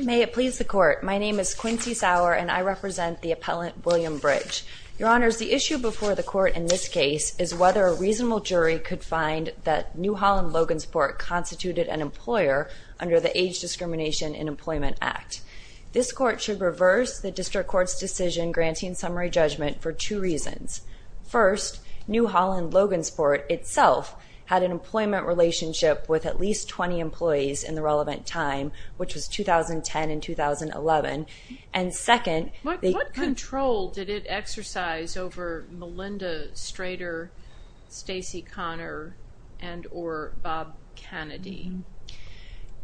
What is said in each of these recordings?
May it please the Court. My name is Quincy Sauer and I represent the appellant William Bridge. Your Honors, the issue before the Court in this case is whether a reasonable jury could find that New Holland Logansport constituted an employer under the Age Discrimination in Employment Act. This Court should reverse the District Court's decision granting summary judgment for two reasons. First, New Holland Logansport itself had an employment relationship with at least 20 employees in the relevant time, which was 2010 and 2011. And second... What control did it exercise over Melinda Strader, Stacey Connor and or Bob Kennedy?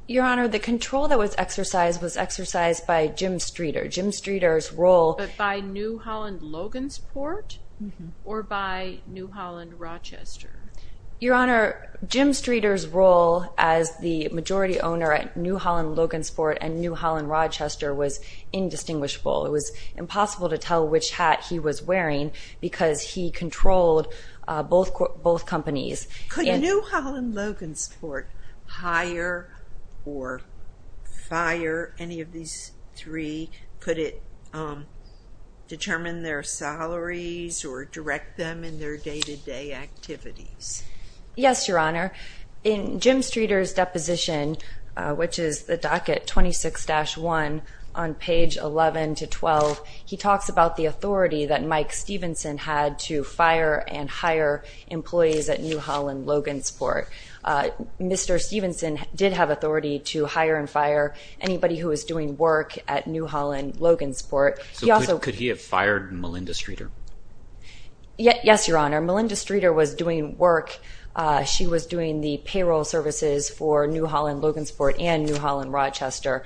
Your Honor, the control that was exercised was exercised by Jim Streeter. Jim Streeter's role... But by New Holland Logansport or by New Holland Rochester was indistinguishable. It was impossible to tell which hat he was wearing because he controlled both companies. Could New Holland Logansport hire or fire any of these three? Could it determine their salaries or direct them in their day-to-day activities? Yes, Your Honor. In Jim Streeter's deposition, which is the docket 26-1 on page 11 to 12, he talks about the authority that Mike Stevenson had to fire and hire employees at New Holland Logansport. Mr. Stevenson did have authority to hire and fire anybody who was doing work at New Yes, Your Honor. Melinda Streeter was doing work. She was doing the payroll services for New Holland Logansport and New Holland Rochester.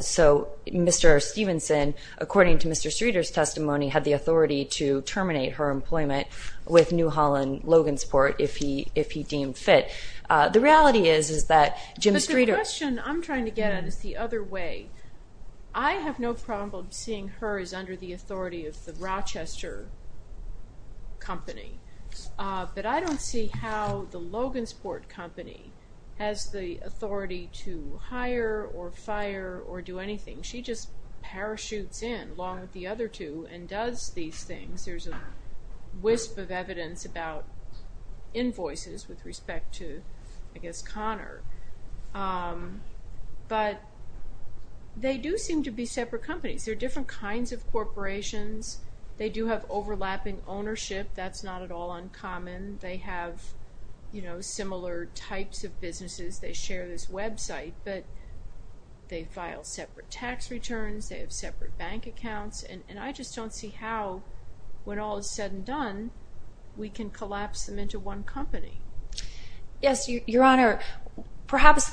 So Mr. Stevenson, according to Mr. Streeter's testimony, had the authority to terminate her employment with New Holland Logansport if he deemed fit. The reality is is that Jim Streeter... But the question I'm trying to get at is the other way. I have no problem seeing her as under the authority of the Rochester company, but I don't see how the Logansport company has the authority to hire or fire or do anything. She just parachutes in along with the other two and does these things. There's a wisp of evidence about invoices with respect to, I guess, Connor, but they do seem to be separate companies. They're different kinds of corporations. They do have overlapping ownership. That's not at all uncommon. They have, you know, similar types of businesses. They share this website, but they file separate tax returns. They have separate bank accounts, and I just don't see how when all is said and done, we can collapse them into one company. Yes, Your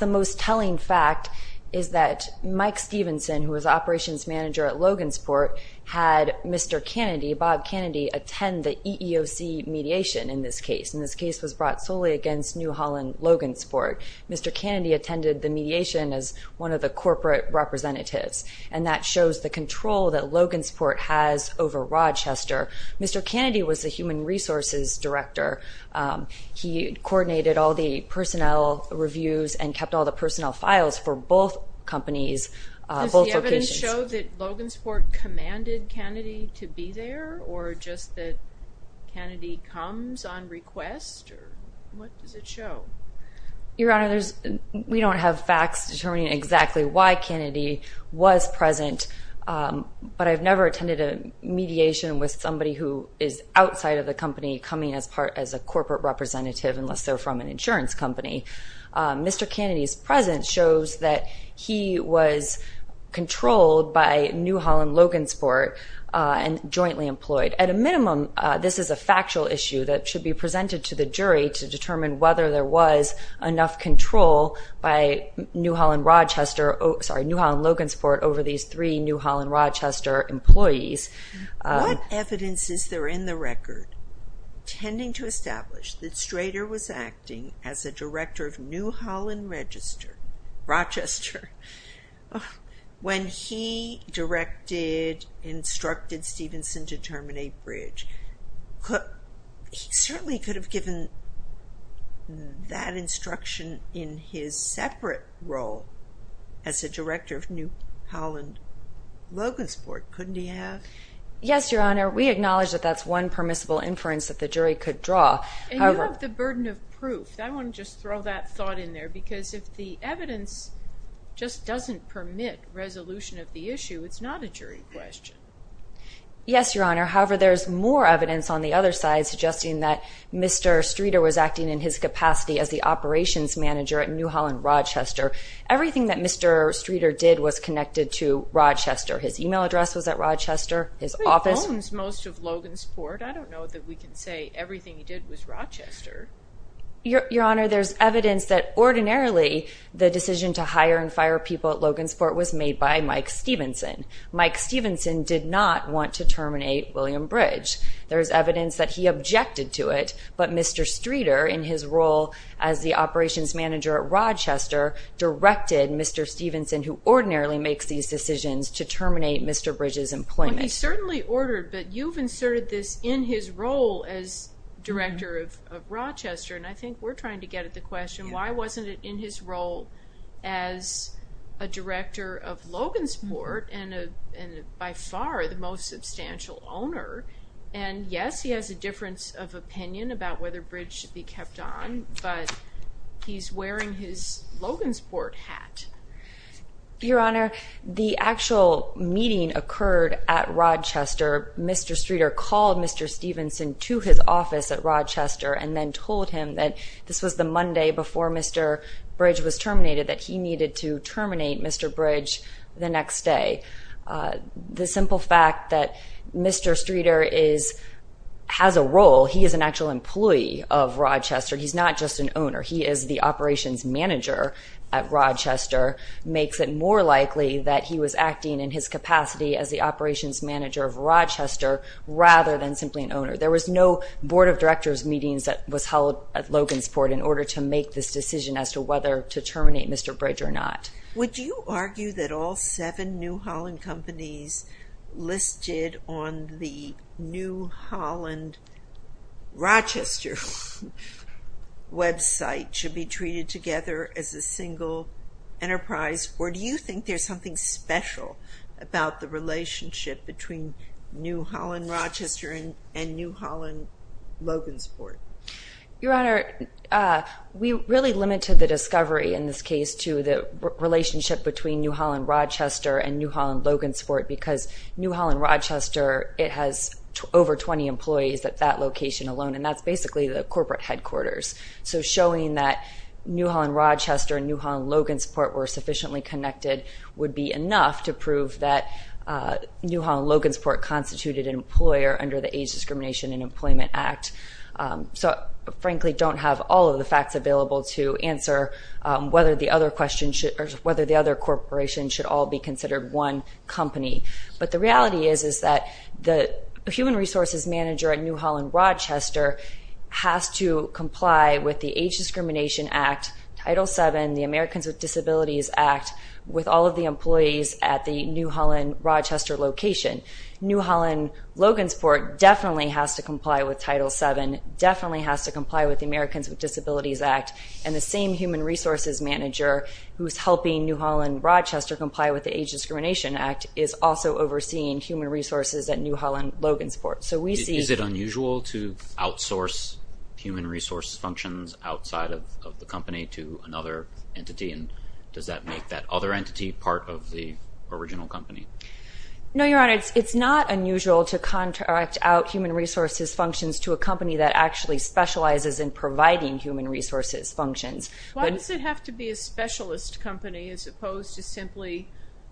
Most Telling Fact is that Mike Stevenson, who was operations manager at Logansport, had Mr. Kennedy, Bob Kennedy, attend the EEOC mediation in this case. And this case was brought solely against New Holland Logansport. Mr. Kennedy attended the mediation as one of the corporate representatives, and that shows the control that Logansport has over Rochester. Mr. Kennedy was the human Does the evidence show that Logansport commanded Kennedy to be there, or just that Kennedy comes on request? What does it show? Your Honor, we don't have facts determining exactly why Kennedy was present, but I've never attended a mediation with somebody who is outside of the company coming as part as a corporate representative, unless they're from an insurance company. Mr. Kennedy's presence shows that he was controlled by New Holland Logansport and jointly employed. At a minimum, this is a factual issue that should be presented to the jury to determine whether there was enough control by New Holland Logansport over these three New Holland Rochester employees. What evidence is there in the record tending to establish that Strader was acting as a director of New Holland Register, Rochester, when he directed, instructed Stevenson to terminate Bridge? He certainly could have given that instruction in his separate role as a director of New Holland Logansport, couldn't he have? Yes, Your Honor, we have the burden of proof. I want to just throw that thought in there, because if the evidence just doesn't permit resolution of the issue, it's not a jury question. Yes, Your Honor, however, there's more evidence on the other side suggesting that Mr. Strader was acting in his capacity as the operations manager at New Holland Rochester. Everything that Mr. Strader did was connected to Rochester. Your Honor, there's evidence that ordinarily the decision to hire and fire people at Logansport was made by Mike Stevenson. Mike Stevenson did not want to terminate William Bridge. There's evidence that he objected to it, but Mr. Strader, in his role as the operations manager at Rochester, directed Mr. Stevenson, who ordinarily makes these decisions, to terminate Mr. Bridge's claim. He certainly ordered, but you've inserted this in his role as director of Rochester, and I think we're trying to get at the question, why wasn't it in his role as a director of Logansport, and by far the most substantial owner? And yes, he has a difference of opinion about whether Bridge should be kept on, but he's wearing his Logansport hat. Your Honor, the actual meeting occurred at Rochester. Mr. Strader called Mr. Stevenson to his office at Rochester and then told him that this was the Monday before Mr. Bridge was terminated, that he needed to terminate Mr. Bridge the next day. The simple fact that Mr. Strader has a role, he is an actual employee of Rochester, he's not just an owner, he is the operations manager at Rochester, makes it more likely that he was acting in his capacity as the operations manager of Rochester, rather than simply an owner. There was no board of directors meetings that was held at Logansport in order to make this decision as to whether to terminate Mr. Bridge or not. Would you argue that all seven New Holland companies listed on the New Holland Rochester website should be treated together as a single enterprise, or do you think there's something special about the relationship between New Holland Rochester and New Holland Logansport? Your Honor, we really limited the discovery in this case to the relationship between New Holland Rochester and New Holland Logansport because New Holland Rochester, it has over 20 employees at that location alone, and that's basically the corporate headquarters. So showing that New Holland Rochester and New Holland Logansport were sufficiently connected would be enough to prove that New Holland Logansport constituted an employer under the Age Discrimination and Employment Act. So I frankly don't have all of the facts available to answer whether the other question should, or whether the other corporation should all be considered one company. But the reality is, is that the human resources manager at New Holland Rochester has to comply with the Age Discrimination Act, Title VII, the Americans with Disabilities Act, with all of the employees at the New Holland Rochester location. New Holland Logansport definitely has to comply with Title VII, definitely has to comply with the Americans with Disabilities Act, and the same human resources manager who's helping New Holland Rochester comply with the Age Discrimination Act is also overseeing human resources at New Holland Logansport. So we see... Is it unusual to outsource human resources functions outside of the company to another entity, and does that make that other entity part of the original company? No, Your Honor, it's not unusual to contract out human resources functions to a company that actually specializes in providing human resources functions. Why does it have to be a specialist company as opposed to simply,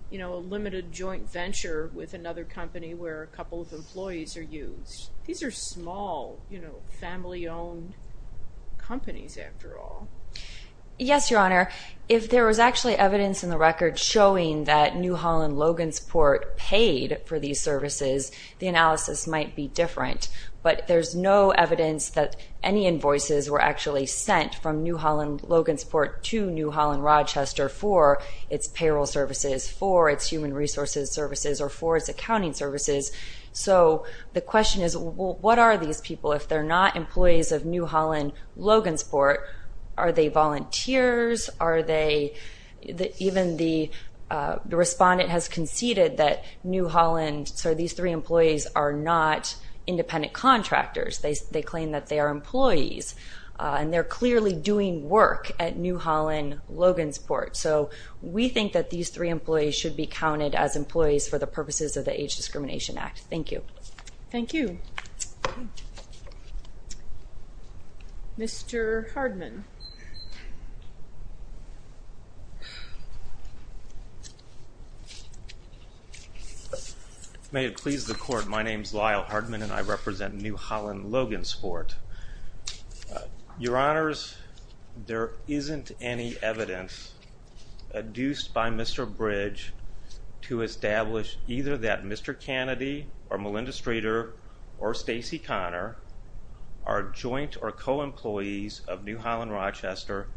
you know, a limited joint venture with another company where a couple of employees are used? These are small, you know, family-owned companies after all. Yes, Your Honor, if there was actually evidence in the record showing that New Holland Logansport paid for these services, the analysis might be different, but there's no evidence that any invoices were actually sent from New Holland Logansport to New Holland Rochester for its payroll services, for its human resources services, or for its accounting services. So the question is, what are these people? If they're not employees of New Holland Logansport, are they volunteers? Are they... Even the respondent has conceded that New Holland, sorry, these three employees are not independent contractors. They claim that they are employees, and they're clearly doing work at New Holland Logansport. So we think that these three employees should be counted as employees for the purposes of the Age Discrimination Act. Thank you. Thank you. Mr. Hardman. May it please the Court, my name is Lyle Hardman and I represent New Holland Logansport. Your Honors, there isn't any evidence adduced by Mr. Bridge to that the three of them, or Stacey Connor, are joint or co-employees of New Holland Rochester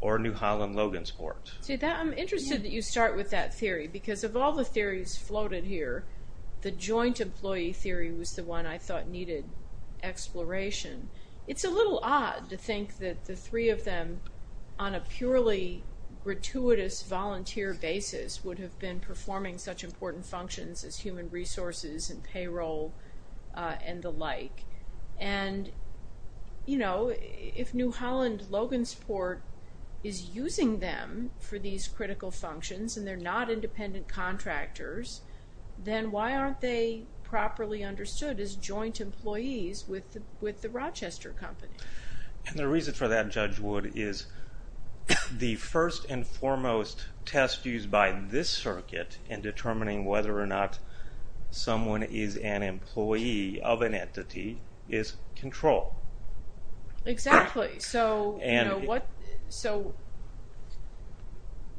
or New Holland Logansport. See, I'm interested that you start with that theory, because of all the theories floated here, the joint employee theory was the one I thought needed exploration. It's a little odd to think that the three of them, on a purely gratuitous volunteer basis, would have been the like. And, you know, if New Holland Logansport is using them for these critical functions, and they're not independent contractors, then why aren't they properly understood as joint employees with the Rochester company? And the reason for that, Judge Wood, is the first and foremost test used by this circuit in determining whether or not someone is an employee of an entity is control. Exactly. So,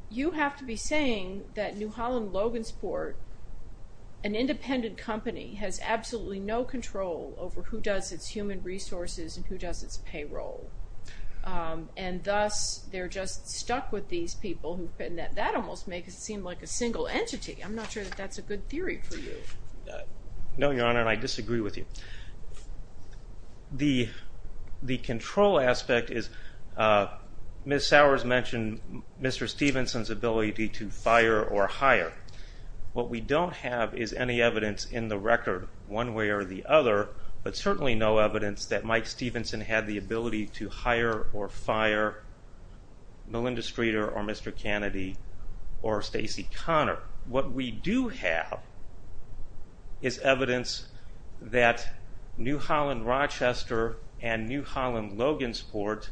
you have to be saying that New Holland Logansport, an independent company, has absolutely no control over who does its human resources and who does its payroll, and thus they're just stuck with these people. That almost makes it seem like a single entity. I'm not sure that's a good theory for you. No, Your Honor, and I disagree with you. The control aspect is, Ms. Sowers mentioned Mr. Stevenson's ability to fire or hire. What we don't have is any evidence in the record, one way or the other, but certainly no evidence that Mike Stevenson had the ability to hire or Stacey Connor. What we do have is evidence that New Holland Rochester and New Holland Logansport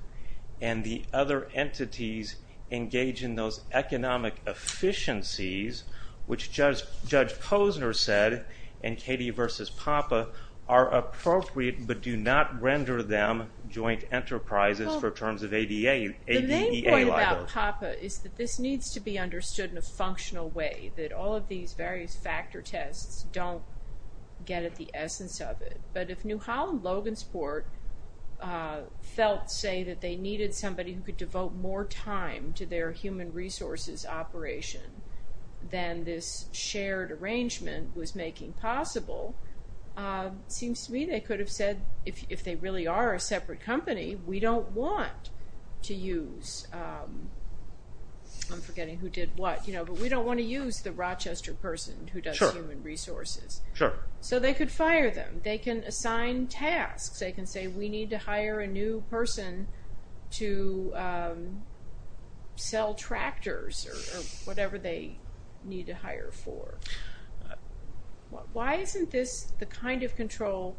and the other entities engage in those economic efficiencies, which Judge Posner said and Katie v. Papa are appropriate, but do not render them joint enterprises for terms of ADA. The main point about Papa is that this needs to be understood in a functional way, that all of these various factor tests don't get at the essence of it, but if New Holland Logansport felt, say, that they needed somebody who could devote more time to their human resources operation than this shared arrangement was making possible, it seems to me they could have said, if they really are a separate company, we don't want to use I'm forgetting who did what, you know, but we don't want to use the Rochester person who does human resources, so they could fire them. They can assign tasks. They can say we need to hire a new person to sell tractors or whatever they need to hire for. Why isn't this the kind of control,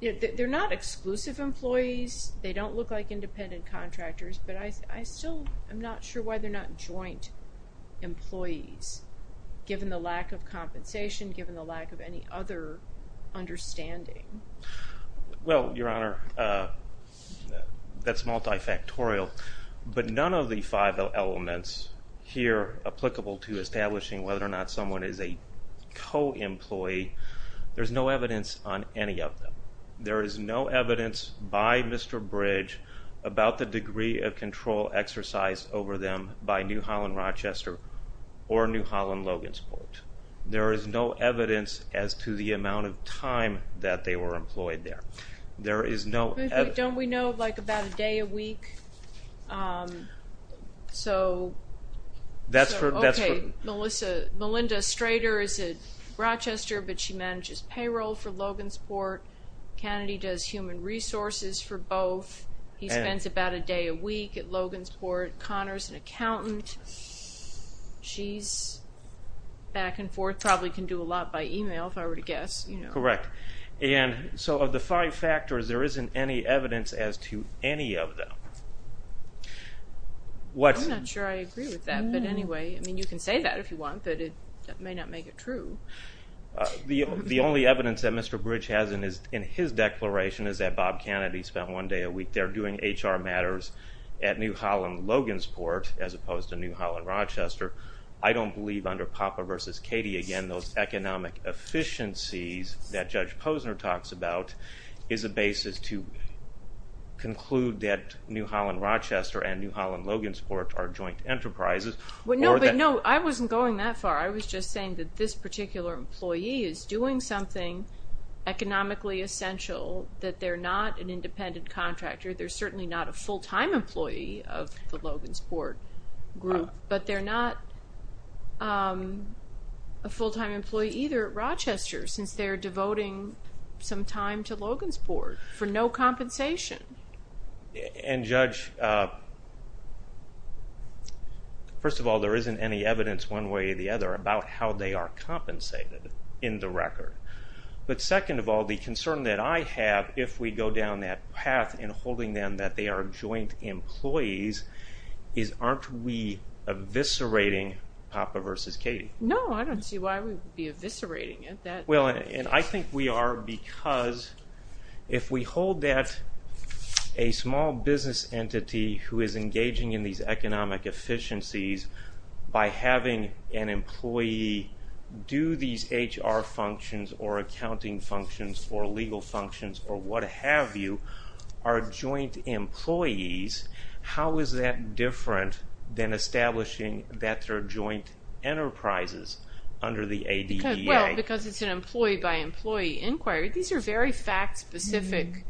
they're not exclusive employees, they don't look like independent contractors, but I still I'm not sure why they're not joint employees, given the lack of compensation, given the lack of any other understanding. Well, Your Honor, that's multifactorial, but none of the five elements here applicable to establishing whether or not someone is a co-employee, there's no evidence on any of them. There is no evidence by Mr. Bridge about the degree of control exercised over them by New Holland Rochester or New Holland Logansport. There is no evidence as to the amount of time that they were employed there. There is no... Don't we know, like, about a day a week? So... That's for... Okay, Melissa, Melinda Strater is at Rochester, but she manages payroll for Logansport. Kennedy does human resources for both. He spends about a day a week at Logansport. Connor's an accountant. She's back and forth, probably can do a lot by email, if I were to guess, you know. Correct, and so of the five factors, there isn't any evidence as to any of them. What's... I'm not sure I agree with that, but anyway, I mean, you can say that if you want, but it may not make it true. The only evidence that Mr. Bridge has in his declaration is that Bob Kennedy spent one day a week there doing HR matters at New Holland Logansport, as opposed to New Holland Rochester. I don't believe under Papa versus Katie, again, those economic efficiencies that Judge Posner talks about is a basis to conclude that New Holland Rochester and New Holland Logansport are joint enterprises. Well, no, but no, I wasn't going that far. I was just saying that this particular employee is doing something economically essential, that they're not an independent contractor. They're certainly not a full-time employee of the Logansport group, but they're not a full-time employee either at Rochester, since they're devoting some time to Logansport for no compensation. And Judge, first of all, there isn't any But second of all, the concern that I have, if we go down that path in holding them that they are joint employees, is aren't we eviscerating Papa versus Katie? No, I don't see why we'd be eviscerating it. Well, and I think we are because if we hold that a small business entity who is engaging in these economic efficiencies by having an employee do these HR functions or accounting functions or legal functions or what-have-you, are joint employees, how is that different than establishing that they're joint enterprises under the ADEA? Well, because it's an employee-by-employee inquiry, these are very fact-specific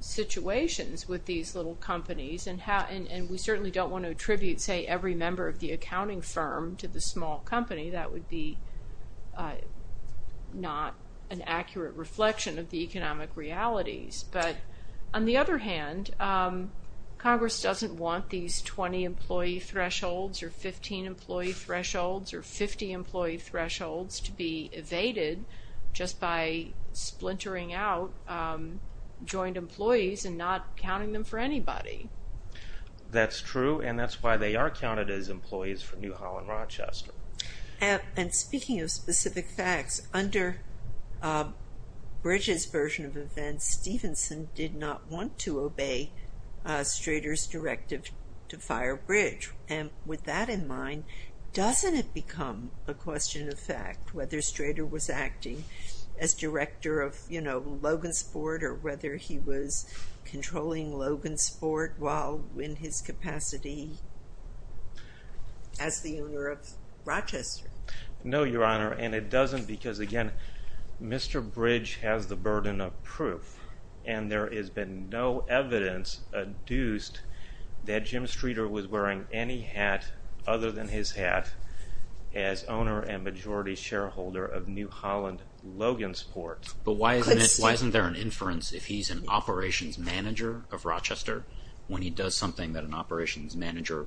situations with these little companies, and we certainly don't want to say every member of the accounting firm to the small company. That would be not an accurate reflection of the economic realities. But on the other hand, Congress doesn't want these 20-employee thresholds or 15-employee thresholds or 50-employee thresholds to be evaded just by splintering out joint employees and not accounting them for anybody. That's true, and that's why they are counted as employees for New Holland Rochester. And speaking of specific facts, under Bridge's version of events, Stevenson did not want to obey Strader's directive to fire Bridge. And with that in mind, doesn't it become a question of fact whether Strader was acting as director of, you know, Logan's board or whether he was controlling Logan's board while in his capacity as the owner of Rochester? No, Your Honor, and it doesn't because again, Mr. Bridge has the burden of proof and there has been no evidence adduced that Jim Strader was wearing any hat other than his hat as owner and majority shareholder of New Holland Logan's port. But why isn't there an inference if he's an operations manager of Rochester when he does something that an operations manager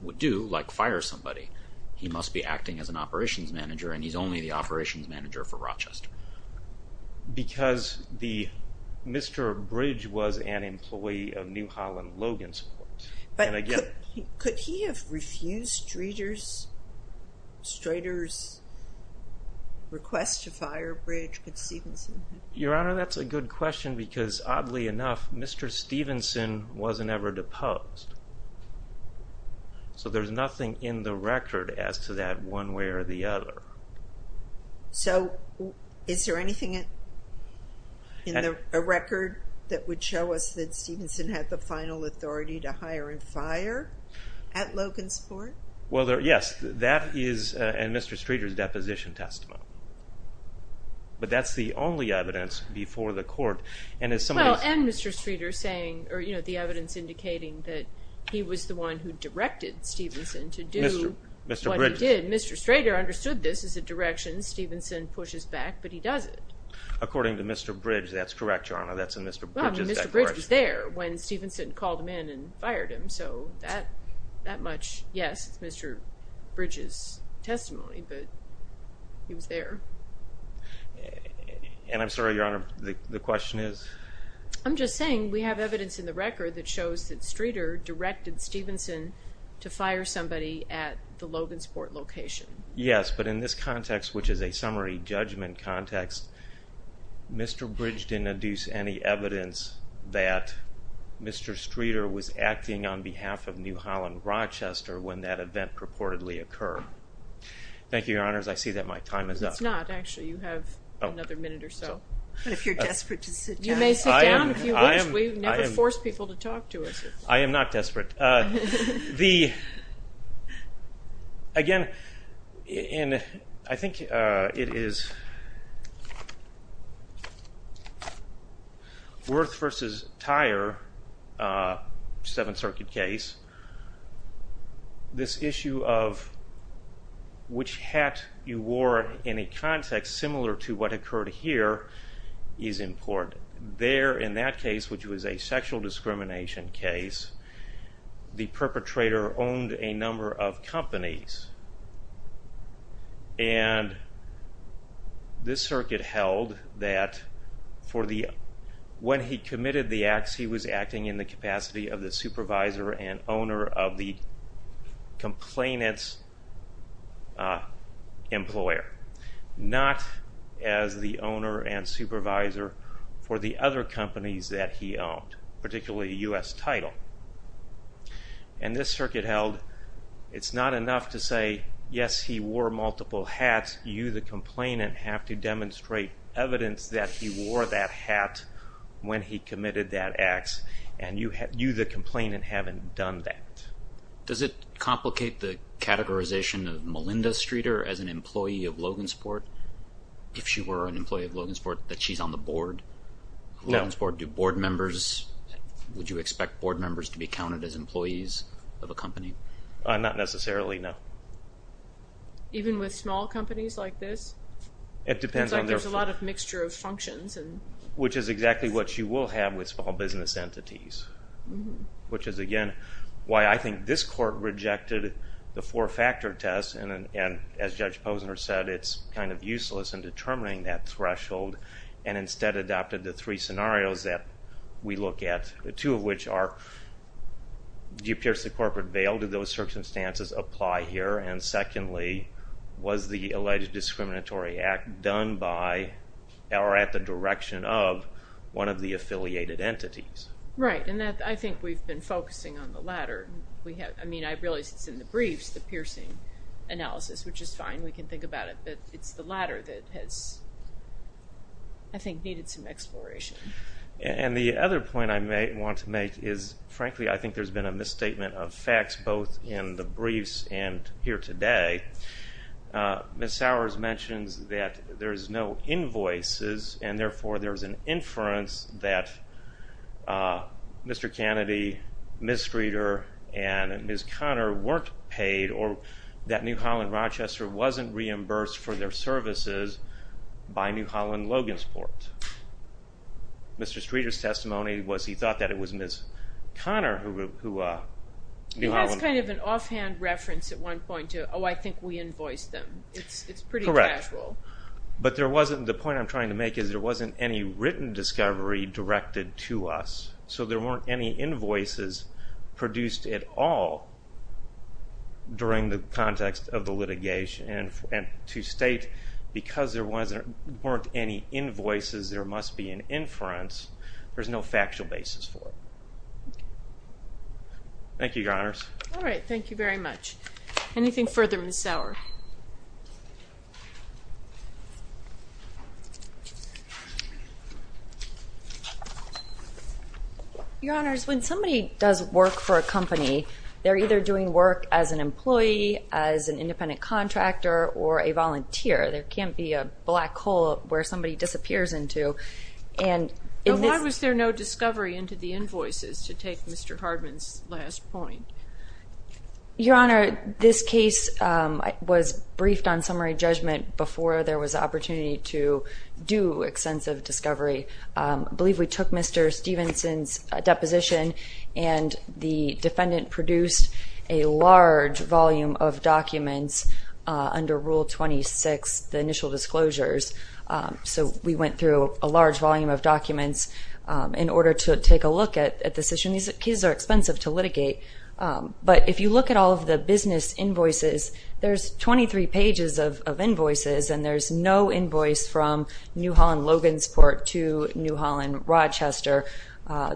would do, like fire somebody, he must be acting as an operations manager and he's only the operations manager for Rochester? Because Mr. Bridge was an employee of New Holland Logan's port. But could he have refused Strader's request to fire Bridge? Your Honor, that's a good question because oddly enough, Mr. Stevenson wasn't ever deposed. So there's nothing in the record as to that one way or the other. So is there anything in the record that would show us that Stevenson had the final authority to hire and fire at Logan's port? Well, yes, that is in Mr. Strader's deposition testimony. But that's the only evidence before the court and as someone... Well, and Mr. Strader saying or you know the evidence indicating that he was the one who directed Stevenson to do what he did. Mr. Strader understood this as a direction, Stevenson pushes back, but he does it. According to Mr. Bridge, that's correct, Your Honor, that's in Mr. Bridge's record. Well, Mr. Bridge was there when Stevenson called him in and fired him, so that much, yes, it's Mr. Bridge's testimony, but he was there. And I'm sorry, Your Honor, the question is? I'm just saying we have evidence in the record that shows that Strader directed Stevenson to fire somebody at the Logan's port location. Yes, but in this context, which is a summary judgment context, Mr. Bridge didn't deduce any evidence that Mr. Strader was acting on behalf of New Holland Rochester when that event purportedly occurred. Thank you, Your Honors. I see that my time is up. It's not, actually, you have another minute or so. But if you're desperate to sit down. You may sit down, if you wish. We never force people to talk to us. I am not Worth v. Tyre, Seventh Circuit case, this issue of which hat you wore in a context similar to what occurred here is important. There, in that case, which was a sexual discrimination case, the perpetrator owned a number of companies. And this circuit held that for the, when he committed the acts, he was acting in the capacity of the supervisor and owner of the complainant's employer, not as the owner and supervisor for the other companies that he owned, particularly U.S. Title. And this circuit held, it's not enough to say, yes, he wore multiple hats. You, the complainant, have to demonstrate evidence that he wore that hat when he committed that acts. And you, the complainant, haven't done that. Does it complicate the categorization of Melinda Strader as an employee of Logansport, if she were an employee of Logansport, that she's on the board? Logansport, do board members to be counted as employees of a company? Not necessarily, no. Even with small companies like this? It depends. There's a lot of mixture of functions. Which is exactly what you will have with small business entities, which is, again, why I think this court rejected the four-factor test and, as Judge Posner said, it's kind of useless in determining that threshold and instead adopted the three scenarios that we look at, the two of which are, do you pierce the corporate veil? Do those circumstances apply here? And secondly, was the alleged discriminatory act done by, or at the direction of, one of the affiliated entities? Right, and that, I think we've been focusing on the latter. We have, I mean, I realize it's in the briefs, the piercing analysis, which is fine. We can think about it, but it's the latter that has, I think, needed some exploration. And the other point I may want to make is, frankly, I think there's been a misstatement of facts, both in the briefs and here today. Ms. Sowers mentions that there's no invoices and, therefore, there's an inference that Mr. Kennedy, Ms. Streeter, and Ms. Connor weren't paid or that New Holland Rochester wasn't reimbursed for their services by New Holland Logansport. Mr. Streeter's testimony was he thought that it was Ms. Connor who... He has kind of an offhand reference at one point to, oh, I think we invoiced them. It's pretty casual. Correct, but there wasn't, the point I'm trying to make is, there wasn't any written discovery directed to us, so there weren't any invoices produced at all during the event to state because there wasn't, weren't any invoices, there must be an inference. There's no factual basis for it. Thank you, Your Honors. All right, thank you very much. Anything further, Ms. Sowers? Your Honors, when somebody does work for a company, they're either doing work as an employee, as an independent contractor, or a volunteer. There can't be a black hole where somebody disappears into and... Why was there no discovery into the invoices, to take Mr. Hardman's last point? Your Honor, this case was briefed on summary judgment before there was opportunity to do extensive discovery. I believe we took Mr. Stevenson's deposition and the defendant produced a large volume of documents under Rule 26, the initial disclosures, so we went through a large volume of documents in order to take a look at this issue. These cases are expensive to litigate, but if you look at all of the business invoices, there's 23 pages of invoices and there's no invoice from New Holland Logansport to New Holland Rochester.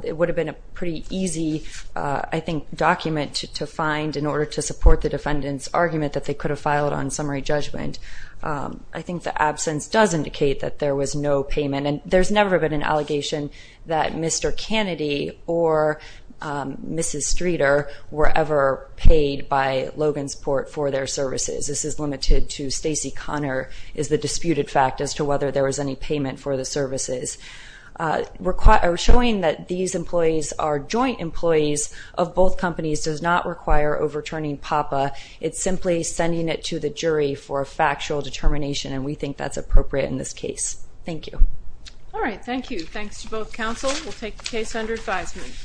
It would have been a pretty easy, I think, document to find in order to support the defendant's argument that they could have filed on summary judgment. I think the absence does indicate that there was no payment and there's never been an allegation that Mr. Kennedy or Mrs. Streeter were ever paid by Logansport for their services. This is limited to Stacey Connor is the disputed fact as to whether there was any payment for the services. Showing that these employees are joint employees of both companies does not require overturning PAPA. It's simply sending it to the jury for a factual determination and we think that's appropriate in this case. Thank you. All right, thank you. Thanks to both counsel. We'll take the case under advisement.